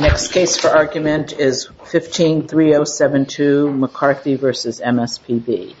Next case for argument is 15-3072 McCarthy v. MSPB. MSWordDoc Word.Document.8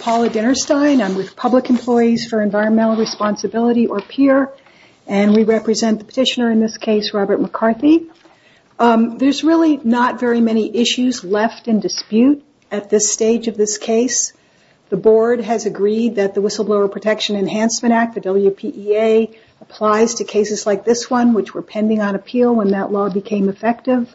Paula Dinnerstein, Public Employees for Environmental Responsibility or PEER. We represent the petitioner in this case, Robert McCarthy. There's really not very many issues left in dispute at this stage of this case. The Board has agreed that the Whistleblower Protection Enhancement Act, the WPEA, applies to cases like this one, which were pending on appeal when that law became effective.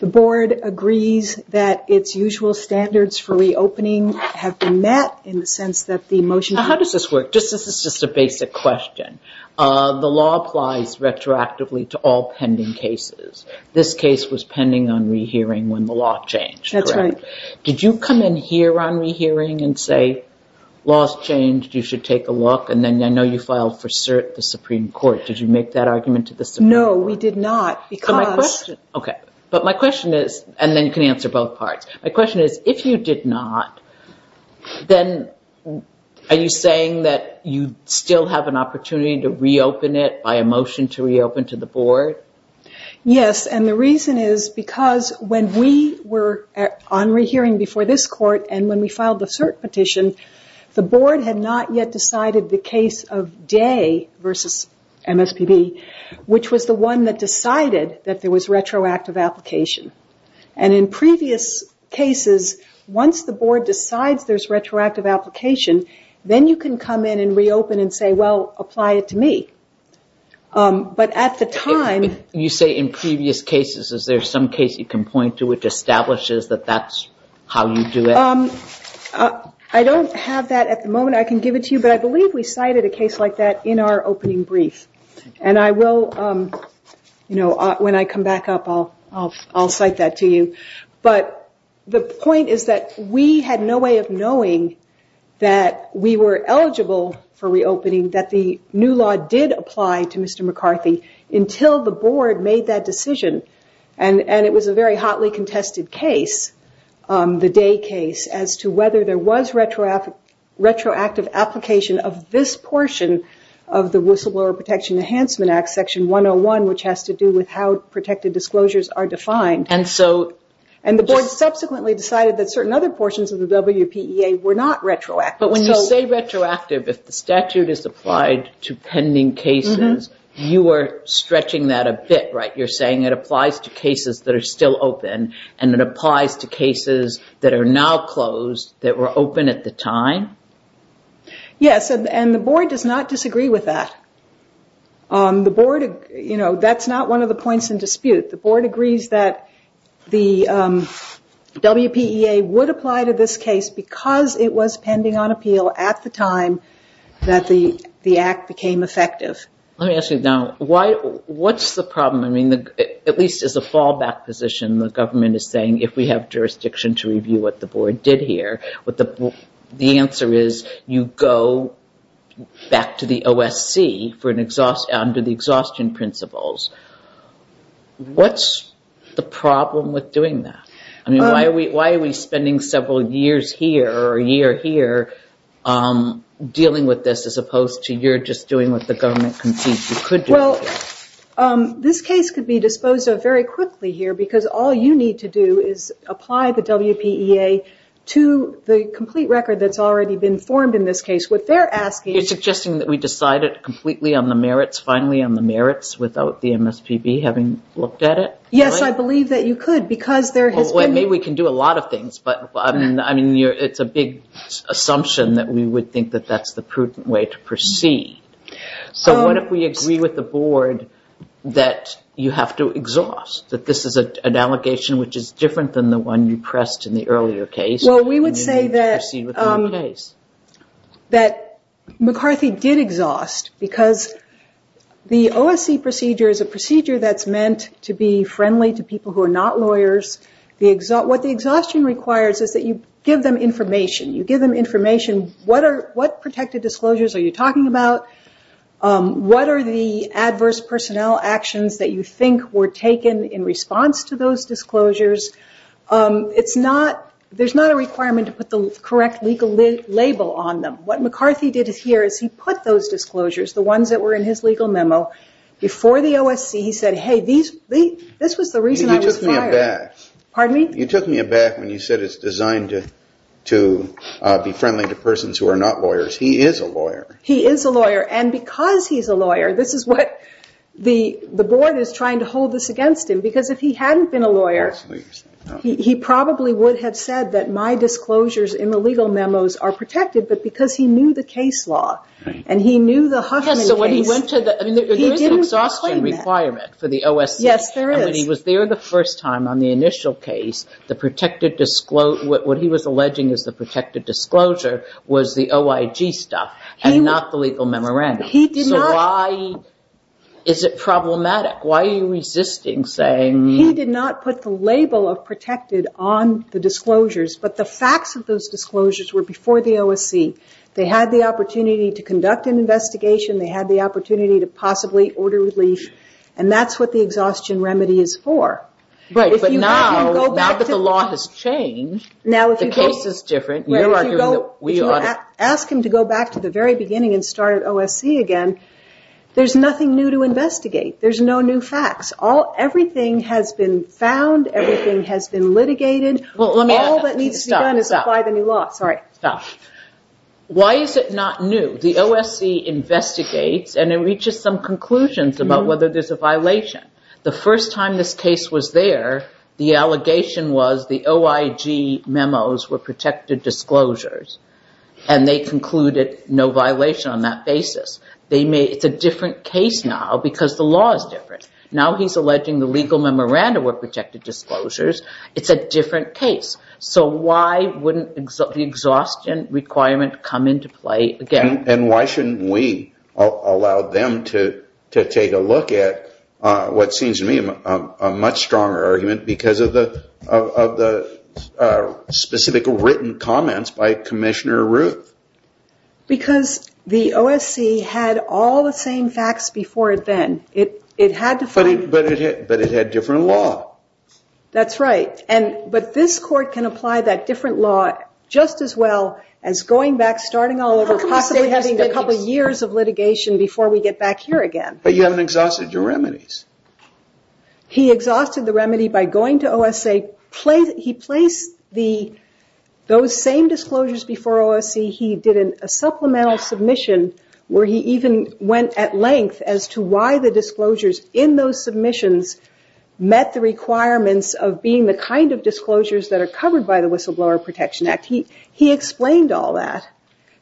The Board agrees that its usual standards for reopening have been met in the sense that the motion... This is just a basic question. The law applies retroactively to all pending cases. This case was pending on rehearing when the law changed, correct? That's right. Did you come in here on rehearing and say, law's changed, you should take a look? And then I know you filed for cert the Supreme Court. Did you make that argument to the Supreme Court? No, we did not because... My question is, and then you can answer both parts. My question is, if you did not, then are you saying that you still have an opportunity to reopen it by a motion to reopen to the Board? Yes, and the reason is because when we were on rehearing before this Court and when we filed the cert petition, the Board had not yet decided the case of Day versus MSPB, which was the one that decided that there was retroactive application. And in previous cases, once the Board decides there's retroactive application, then you can come in and reopen and say, well, apply it to me. But at the time... You say in previous cases. Is there some case you can point to which establishes that that's how you do it? I don't have that at the moment. I can give it to you, but I believe we cited a case like that in our opening brief. And I will, you know, when I come back up, I'll cite that to you. But the point is that we had no way of knowing that we were eligible for reopening, that the new law did apply to Mr. McCarthy, until the Board made that decision. And it was a very hotly contested case, the Day case, as to whether there was retroactive application of this portion of the Whistleblower Protection Enhancement Act, Section 101, which has to do with how protected disclosures are defined. And so... And the Board subsequently decided that certain other portions of the WPEA were not retroactive. But when you say retroactive, if the statute is applied to pending cases, you are stretching that a bit, right? You're saying it applies to cases that are still open, and it applies to cases that are now closed, that were open at the time? Yes, and the Board does not disagree with that. The Board, you know, that's not one of the points in dispute. The Board agrees that the WPEA would apply to this case because it was pending on appeal at the time that the act became effective. Let me ask you now, what's the problem? I mean, at least as a fallback position, the government is saying, if we have jurisdiction to review what the Board did here, the answer is you go back to the OSC under the exhaustion principles. What's the problem with doing that? I mean, why are we spending several years here, or a year here, dealing with this as opposed to you're just doing what the government concedes you could do? Well, this case could be disposed of very quickly here because all you need to do is apply the WPEA to the complete record that's already been formed in this case. What they're asking... You're suggesting that we decide it completely on the merits, finally on the merits, without the MSPB having looked at it? Yes, I believe that you could because there has been... Well, maybe we can do a lot of things, but I mean, it's a big assumption that we would think that that's the prudent way to proceed. So what if we agree with the Board that you have to exhaust, that this is an allegation which is different than the one you pressed in the earlier case? Well, we would say that McCarthy did exhaust because the OSC procedure is a procedure that's meant to be friendly to people who are not lawyers. What the exhaustion requires is that you give them information. You give them information. What protected disclosures are you talking about? What are the adverse personnel actions that you think were taken in response to those disclosures? It's not... There's not a requirement to put the correct legal label on them. What McCarthy did here is he put those disclosures, the ones that were in his legal memo, before the OSC. And he said, hey, this was the reason I was fired. You took me aback. Pardon me? You took me aback when you said it's designed to be friendly to persons who are not lawyers. He is a lawyer. He is a lawyer. And because he's a lawyer, this is what the Board is trying to hold this against him. Because if he hadn't been a lawyer, he probably would have said that my disclosures in the legal memos are protected, but because he knew the case law and he knew the Huffman case... There is an exhaustion requirement for the OSC. Yes, there is. He was there the first time on the initial case. What he was alleging as the protected disclosure was the OIG stuff and not the legal memorandum. So why is it problematic? Why are you resisting saying... He did not put the label of protected on the disclosures, but the facts of those disclosures were before the OSC. They had the opportunity to conduct an investigation. They had the opportunity to possibly order relief, and that's what the exhaustion remedy is for. Right, but now that the law has changed, the case is different. If you ask him to go back to the very beginning and start at OSC again, there's nothing new to investigate. There's no new facts. Everything has been found. Everything has been litigated. All that needs to be done is apply the new law. Sorry. Stop. Why is it not new? The OSC investigates, and it reaches some conclusions about whether there's a violation. The first time this case was there, the allegation was the OIG memos were protected disclosures, and they concluded no violation on that basis. It's a different case now because the law is different. Now he's alleging the legal memorandum were protected disclosures. It's a different case. So why wouldn't the exhaustion requirement come into play again? And why shouldn't we allow them to take a look at what seems to me a much stronger argument because of the specific written comments by Commissioner Ruth? Because the OSC had all the same facts before then. But it had different law. That's right. But this court can apply that different law just as well as going back, starting all over, possibly having a couple years of litigation before we get back here again. But you haven't exhausted your remedies. He exhausted the remedy by going to OSC. He placed those same disclosures before OSC. He did a supplemental submission where he even went at length as to why the disclosures in those submissions met the requirements of being the kind of disclosures that are covered by the Whistleblower Protection Act. He explained all that.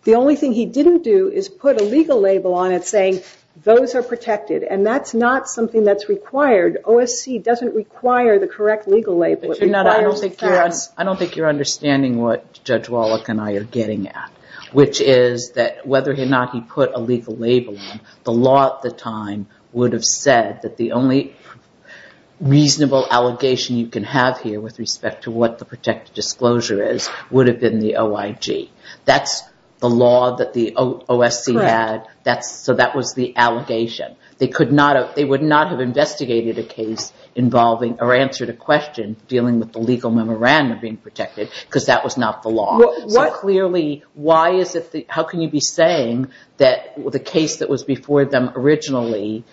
The only thing he didn't do is put a legal label on it saying those are protected, and that's not something that's required. OSC doesn't require the correct legal label. I don't think you're understanding what Judge Wallach and I are getting at, which is that whether or not he put a legal label on, the law at the time would have said that the only reasonable allegation you can have here with respect to what the protected disclosure is would have been the OIG. That's the law that the OSC had, so that was the allegation. They would not have investigated a case involving or answered a question dealing with the legal memorandum being protected because that was not the law. Clearly, how can you be saying that the case that was before them originally,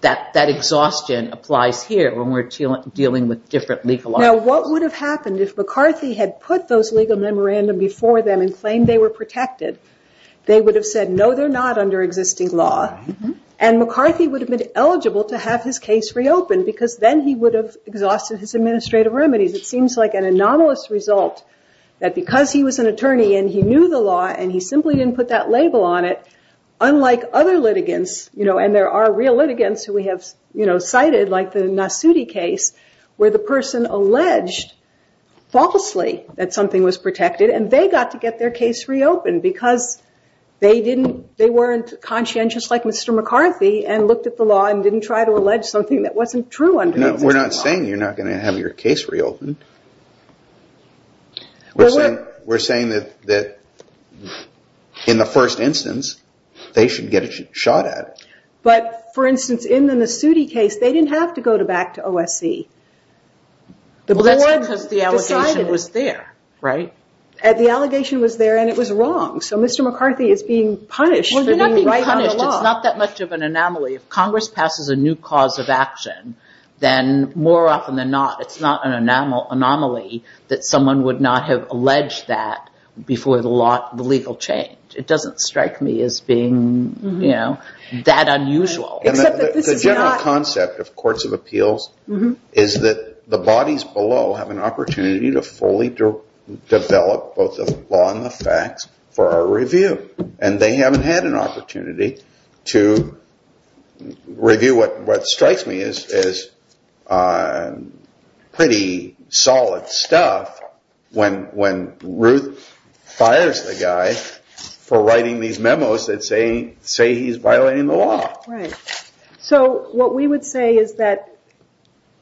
that exhaustion applies here when we're dealing with different legal articles? What would have happened if McCarthy had put those legal memorandum before them and claimed they were protected? They would have said, no, they're not under existing law, and McCarthy would have been eligible to have his case reopened because then he would have exhausted his administrative remedies. It seems like an anomalous result that because he was an attorney and he knew the law and he simply didn't put that label on it, unlike other litigants, and there are real litigants who we have cited like the Nasuti case, where the person alleged falsely that something was protected and they got to get their case reopened because they weren't conscientious like Mr. McCarthy and looked at the law and didn't try to allege something that wasn't true under existing law. We're not saying you're not going to have your case reopened. We're saying that in the first instance, they should get a shot at it. But, for instance, in the Nasuti case, they didn't have to go back to OSC. Well, that's because the allegation was there, right? The allegation was there and it was wrong. So Mr. McCarthy is being punished for being right on the law. Well, you're not being punished. It's not that much of an anomaly. If Congress passes a new cause of action, then more often than not, it's not an anomaly that someone would not have alleged that before the legal change. It doesn't strike me as being that unusual. The general concept of courts of appeals is that the bodies below have an opportunity to fully develop both the law and the facts for our review and they haven't had an opportunity to review what strikes me as pretty solid stuff when Ruth fires the guy for writing these memos that say he's violating the law. Right. So what we would say is that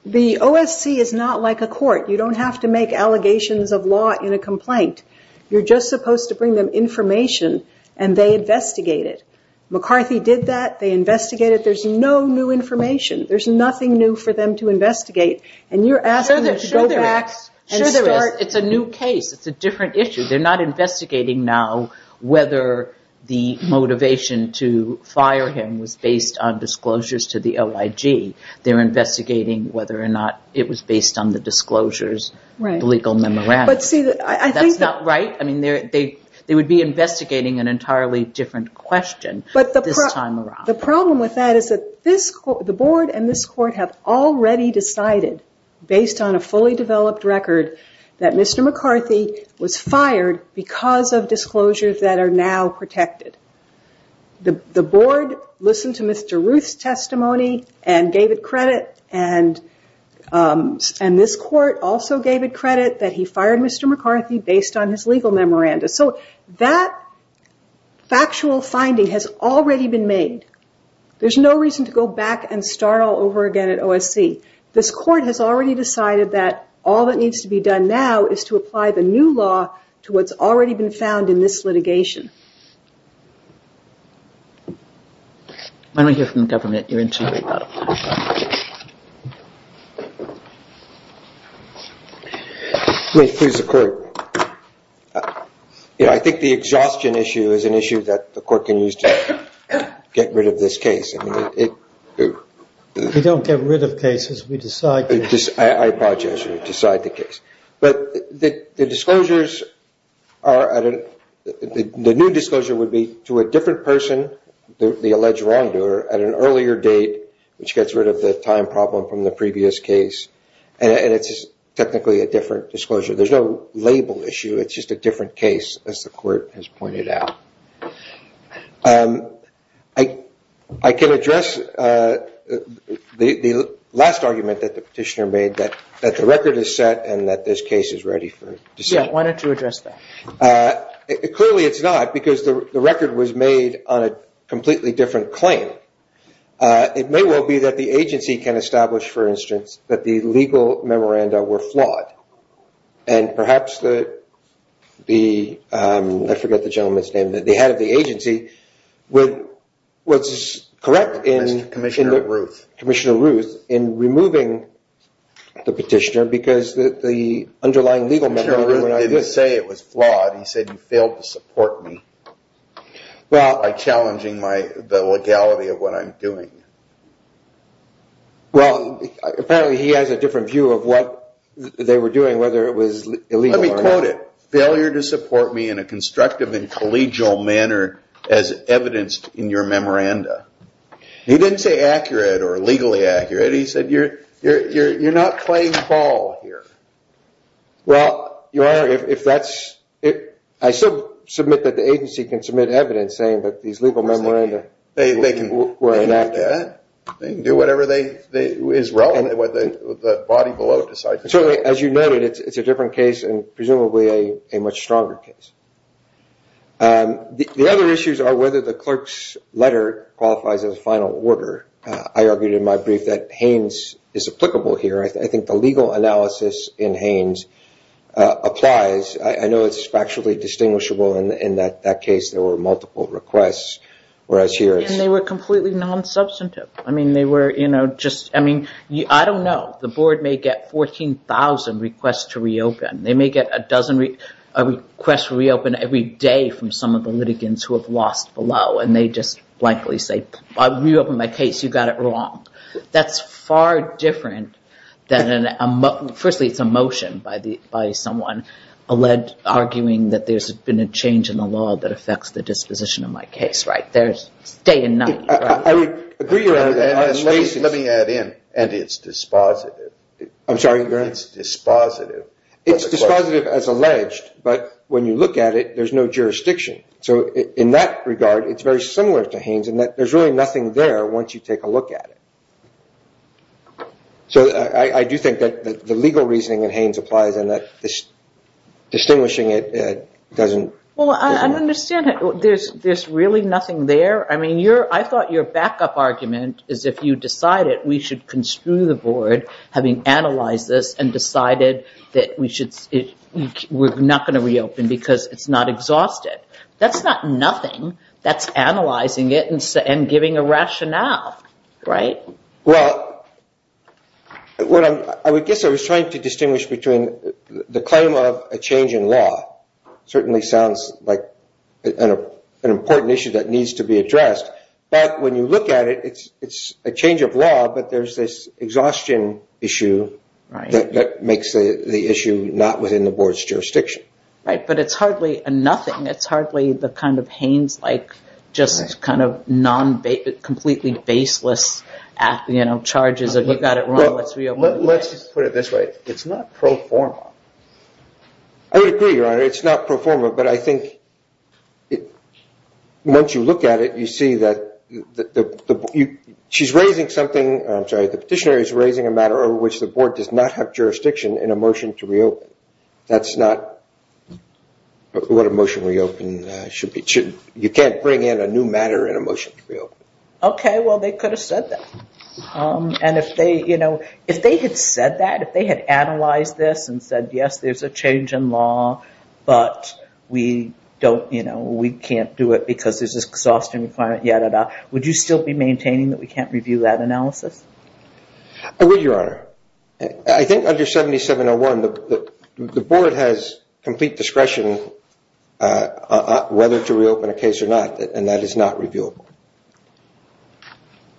the OSC is not like a court. You don't have to make allegations of law in a complaint. You're just supposed to bring them information and they investigate it. McCarthy did that. They investigated. There's no new information. There's nothing new for them to investigate. And you're asking them to go back and start... Sure there is. It's a new case. It's a different issue. They're not investigating now whether the motivation to fire him was based on disclosures to the OIG. They're investigating whether or not it was based on the disclosures, the legal memorandum. That's not right. They would be investigating an entirely different question this time around. The problem with that is that the board and this court have already decided based on a fully developed record that Mr. McCarthy was fired because of disclosures that are now protected. The board listened to Mr. Ruth's testimony and gave it credit and this court also gave it credit that he fired Mr. McCarthy based on his legal memorandum. So that factual finding has already been made. There's no reason to go back and start all over again at OSC. This court has already decided that all that needs to be done now is to apply the new law to what's already been found in this litigation. Why don't we hear from the government? You're in charge of that. Let me please the court. I think the exhaustion issue is an issue that the court can use to get rid of this case. If we don't get rid of cases, we decide the case. I apologize. We decide the case. The new disclosure would be to a different person, the alleged wrongdoer, at an earlier date which gets rid of the time problem from the previous case. It's technically a different disclosure. There's no label issue. It's just a different case as the court has pointed out. I can address the last argument that the petitioner made that the record is set and that this case is ready for decision. Why don't you address that? Clearly it's not because the record was made on a completely different claim. It may well be that the agency can establish, for instance, that the legal memoranda were flawed. Perhaps the head of the agency was correct in the petitioner because the underlying legal memoranda were not good. He didn't say it was flawed. He said you failed to support me by challenging the legality of what I'm doing. Apparently he has a different view of what they were doing, whether it was illegal or not. Let me quote it. Failure to support me in a constructive and collegial manner as evidenced in your memoranda. He didn't say accurate or legally accurate. He said you're not playing ball here. I submit that the agency can submit evidence saying that these legal memoranda were inaccurate. They can do whatever is relevant. As you noted, it's a different case and presumably a much stronger case. The other issues are whether the clerk's letter qualifies as a final order. I argued in my brief that Haynes is applicable here. I think the legal analysis in Haynes applies. I know it's factually distinguishable in that case there were multiple requests. They were completely non-substantive. I don't know. The board may get 14,000 requests to reopen. They may get a request to reopen every day from some of the litigants who have lost below. They just blankly say, I reopened my case. You got it wrong. That's far different. Firstly, it's a motion by someone arguing that there's been a change in the law that affects the disposition of my case. It's day and night. Let me add in, and it's dispositive. I'm sorry? It's dispositive. It's dispositive as alleged, but when you look at it, there's no jurisdiction. In that regard, it's very similar to Haynes in that there's really nothing there once you take a look at it. I do think that the legal reasoning in Haynes applies and that distinguishing it doesn't... I understand that there's really nothing there. I thought your backup argument is if you decided we should construe the board, having analyzed this and decided that we're not going to reopen because it's not exhausted. That's not nothing. That's analyzing it and giving a rationale. I guess I was trying to distinguish between the claim of a change in law. It certainly sounds like an important issue that needs to be addressed, but when you look at it, it's a change of law, but there's this exhaustion issue that makes the issue not within the board's jurisdiction. Right, but it's hardly nothing. It's hardly the kind of Haynes-like, just completely baseless charges of you got it wrong, let's reopen. Let's put it this way. It's not pro forma. I would agree, Your Honor. It's not pro forma, but I think once you look at it, you see that the petitioner is raising a matter over which the board does not have jurisdiction in a motion to reopen. That's not what a motion to reopen should be. You can't bring in a new matter in a motion to reopen. Okay, well, they could have said that. If they had said that, if they had analyzed this and said yes, there's a change in law, but we can't do it because there's this exhaustion requirement, would you still be maintaining that we can't review that analysis? I would, Your Honor. I think under 7701, the board has complete discretion whether to reopen a case or not, and that is not reviewable.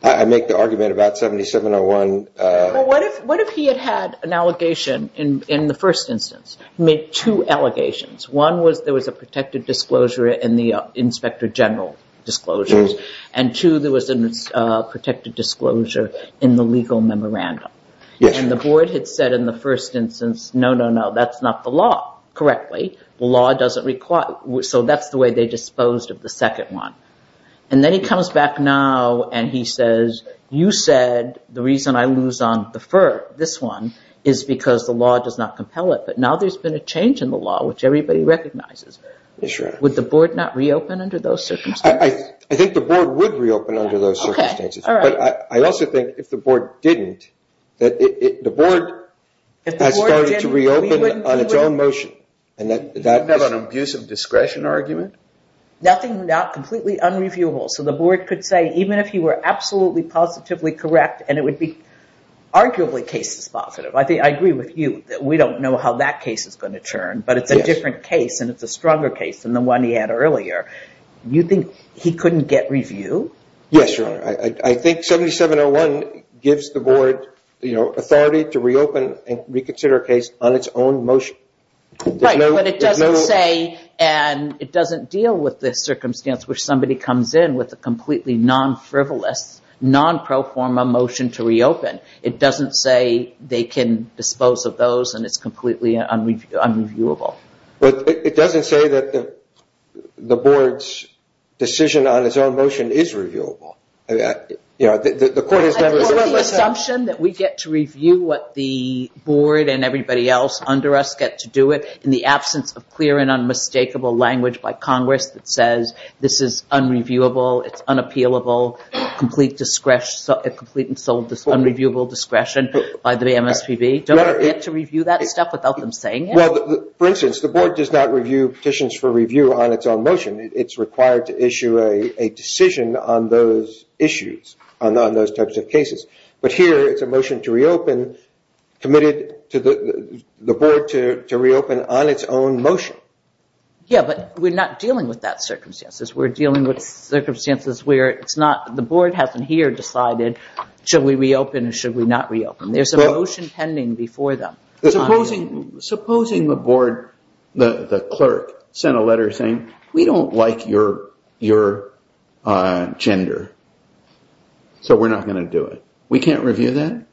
I make the argument about 7701. Well, what if he had had an allegation in the first instance? He made two allegations. One was there was a protected disclosure in the inspector general disclosures, and two, there was a protected disclosure in the legal memorandum. And the board had said in the first instance, no, no, no, that's not the law, correctly. The law doesn't require, so that's the way they disposed of the second one. And then he comes back now and he says, you said the reason I lose on the first, this one, is because the law does not compel it. But now there's been a change in the law, which everybody recognizes. Would the board not reopen under those circumstances? I think the board would reopen under those circumstances. But I also think if the board didn't, that the board has started to reopen on its own motion. You have an abuse of discretion argument? Nothing completely unreviewable. So the board could say, even if he were absolutely positively correct, and it would be arguably cases positive. I agree with you that we don't know how that case is going to turn, but it's a different case and it's a stronger case than the one he had earlier. You think he couldn't get review? Yes, Your Honor. I think 7701 gives the board authority to reopen and reconsider a case on its own motion. Right, but it doesn't say and it doesn't deal with the circumstance where somebody comes in with a completely non-frivolous, non-pro forma motion to reopen. It doesn't say they can dispose of those and it's completely unreviewable. But it doesn't say that the board's decision on its own motion is reviewable. Is it the assumption that we get to review what the board and everybody else under us get to do it in the absence of clear and unmistakable language by Congress that says this is unreviewable, it's unappealable, complete and sole unreviewable discretion by the MSPB? Don't we get to review that stuff without them saying it? For instance, the board does not review petitions for review on its own motion. It's required to issue a decision on those issues, on those types of cases. But here it's a motion to reopen committed to the board to reopen on its own motion. Yeah, but we're not dealing with that circumstances. We're dealing with circumstances where it's not the board hasn't here decided should we reopen or should we not reopen. There's a motion pending before them. Supposing the board, the clerk, sent a letter saying, we don't like your gender, so we're not going to do it. We can't review that?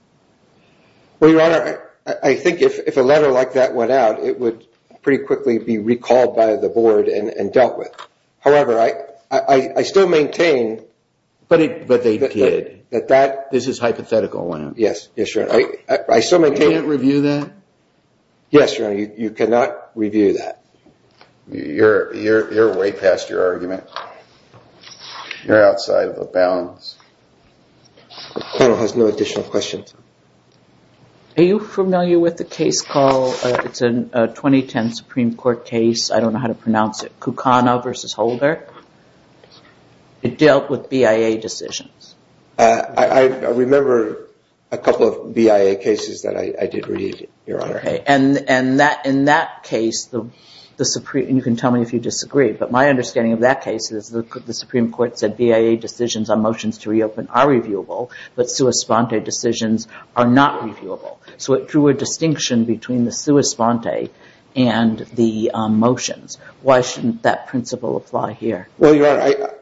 Well, Your Honor, I think if a letter like that went out, it would pretty quickly be recalled by the board and dealt with. However, I still maintain... But they did. This is hypothetical. Yes, sure. You can't review that? Yes, Your Honor, you cannot review that. You're way past your argument. You're outside of the bounds. The panel has no additional questions. Are you familiar with the case called, it's a 2010 Supreme Court case, I don't know how to pronounce it, Kucana versus Holder? It dealt with BIA decisions. I remember a couple of BIA cases that I did read, Your Honor. In that case, you can tell me if you disagree, but my understanding of that case is the Supreme Court said BIA decisions on motions to reopen are reviewable, but sua sponte decisions are not reviewable. So it drew a distinction between the sua sponte and the motions. Why shouldn't that principle apply here? Well, Your Honor,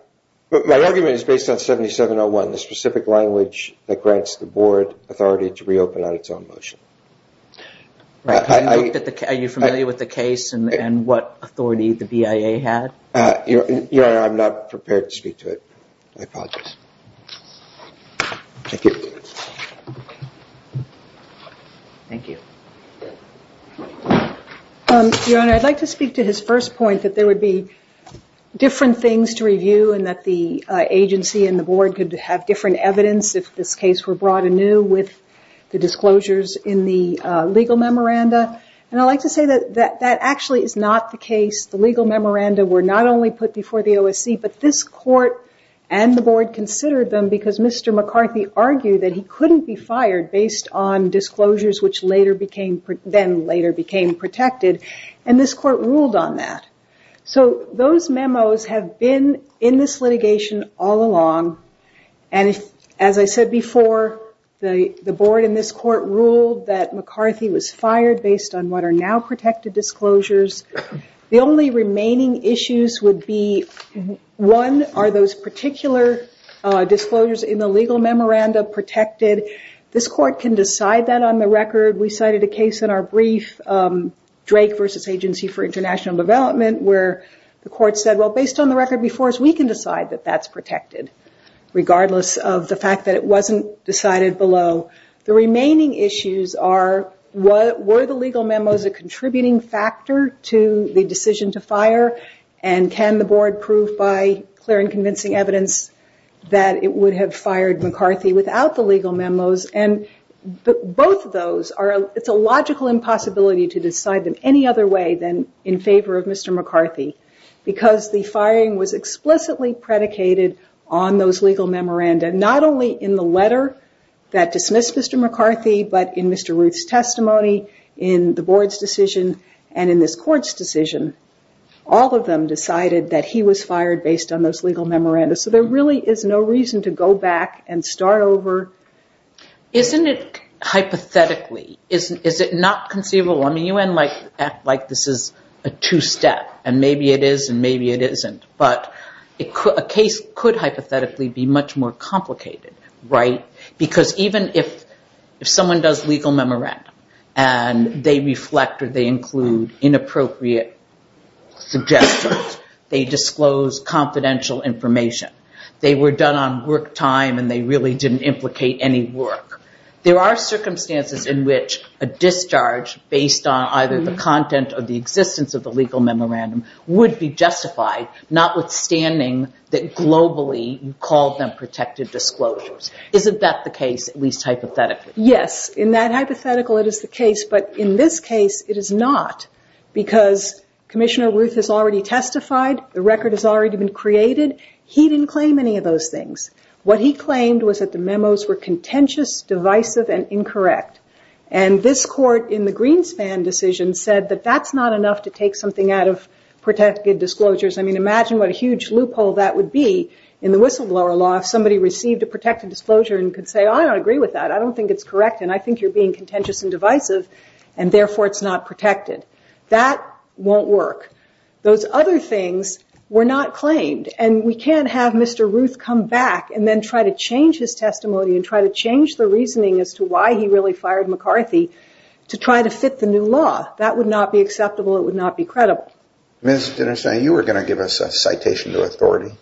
my argument is based on 7701, the specific language that grants the board authority to reopen on its own motion. Are you familiar with the case and what authority the BIA had? Your Honor, I'm not prepared to speak to it. I apologize. Thank you. Thank you. Your Honor, I'd like to speak to his first point, that there would be different things to review and that the agency and the board could have different evidence if this case were brought anew with the disclosures in the legal memoranda. And I'd like to say that that actually is not the case. The legal memoranda were not only put before the OSC, but this court and the board considered them because Mr. McCarthy argued that he couldn't be fired based on disclosures which then later became protected, and this court ruled on that. So those memos have been in this litigation all along, and as I said before, the board and this court ruled that McCarthy was fired based on what are now protected disclosures. The only remaining issues would be, one, are those particular disclosures in the legal memoranda protected? This court can decide that on the record. We cited a case in our brief, Drake v. Agency for International Development, where the court said, well, based on the record before us, we can decide that that's protected, regardless of the fact that it wasn't decided below. The remaining issues are, were the legal memos a contributing factor to the decision to fire, and can the board prove by clear and convincing evidence that it would have fired McCarthy without the legal memos? Both of those, it's a logical impossibility to decide them any other way than in favor of Mr. McCarthy, because the firing was explicitly predicated on those legal memoranda, not only in the letter that dismissed Mr. McCarthy, but in Mr. Ruth's testimony, in the board's decision, and in this court's decision. All of them decided that he was fired based on those legal memoranda, so there really is no reason to go back and start over. Isn't it hypothetically, is it not conceivable? I mean, you act like this is a two-step, and maybe it is and maybe it isn't, but a case could hypothetically be much more complicated, right? Because even if someone does legal memorandum, and they reflect or they include inappropriate suggestions, they disclose confidential information. They were done on work time, and they really didn't implicate any work. There are circumstances in which a discharge based on either the content or the existence of the legal memorandum would be justified, notwithstanding that globally you called them protected disclosures. Isn't that the case, at least hypothetically? Yes, in that hypothetical it is the case, but in this case it is not, because Commissioner Ruth has already testified, the record has already been created. He didn't claim any of those things. What he claimed was that the memos were contentious, divisive, and incorrect, and this court in the Greenspan decision said that that's not enough to take something out of protected disclosures. I mean, imagine what a huge loophole that would be in the whistleblower law if somebody received a protected disclosure and could say, I don't agree with that, I don't think it's correct, and I think you're being contentious and divisive, and therefore it's not protected. That won't work. Those other things were not claimed, and we can't have Mr. Ruth come back and then try to change his testimony and try to change the reasoning as to why he really fired McCarthy to try to fit the new law. That would not be acceptable, it would not be credible. Ms. Dinnerstein, you were going to give us a citation to authority.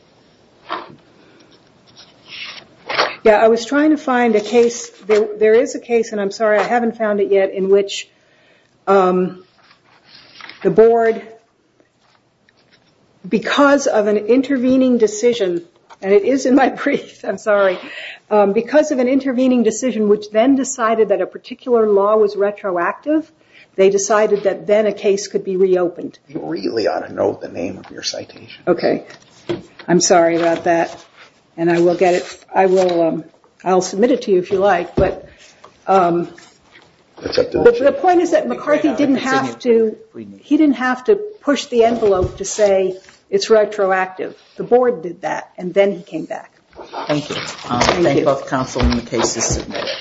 Yeah, I was trying to find a case, there is a case, and I'm sorry I haven't found it yet, in which the board, because of an intervening decision, and it is in my brief, I'm sorry, because of an intervening decision which then decided that a particular law was retroactive, they decided that then a case could be reopened. You really ought to note the name of your citation. Okay, I'm sorry about that. And I will get it, I will, I'll submit it to you if you like, but... The point is that McCarthy didn't have to, he didn't have to push the envelope to say it's retroactive. The board did that, and then he came back. Thank you. Thank you. Thank both counsel and the cases submitted.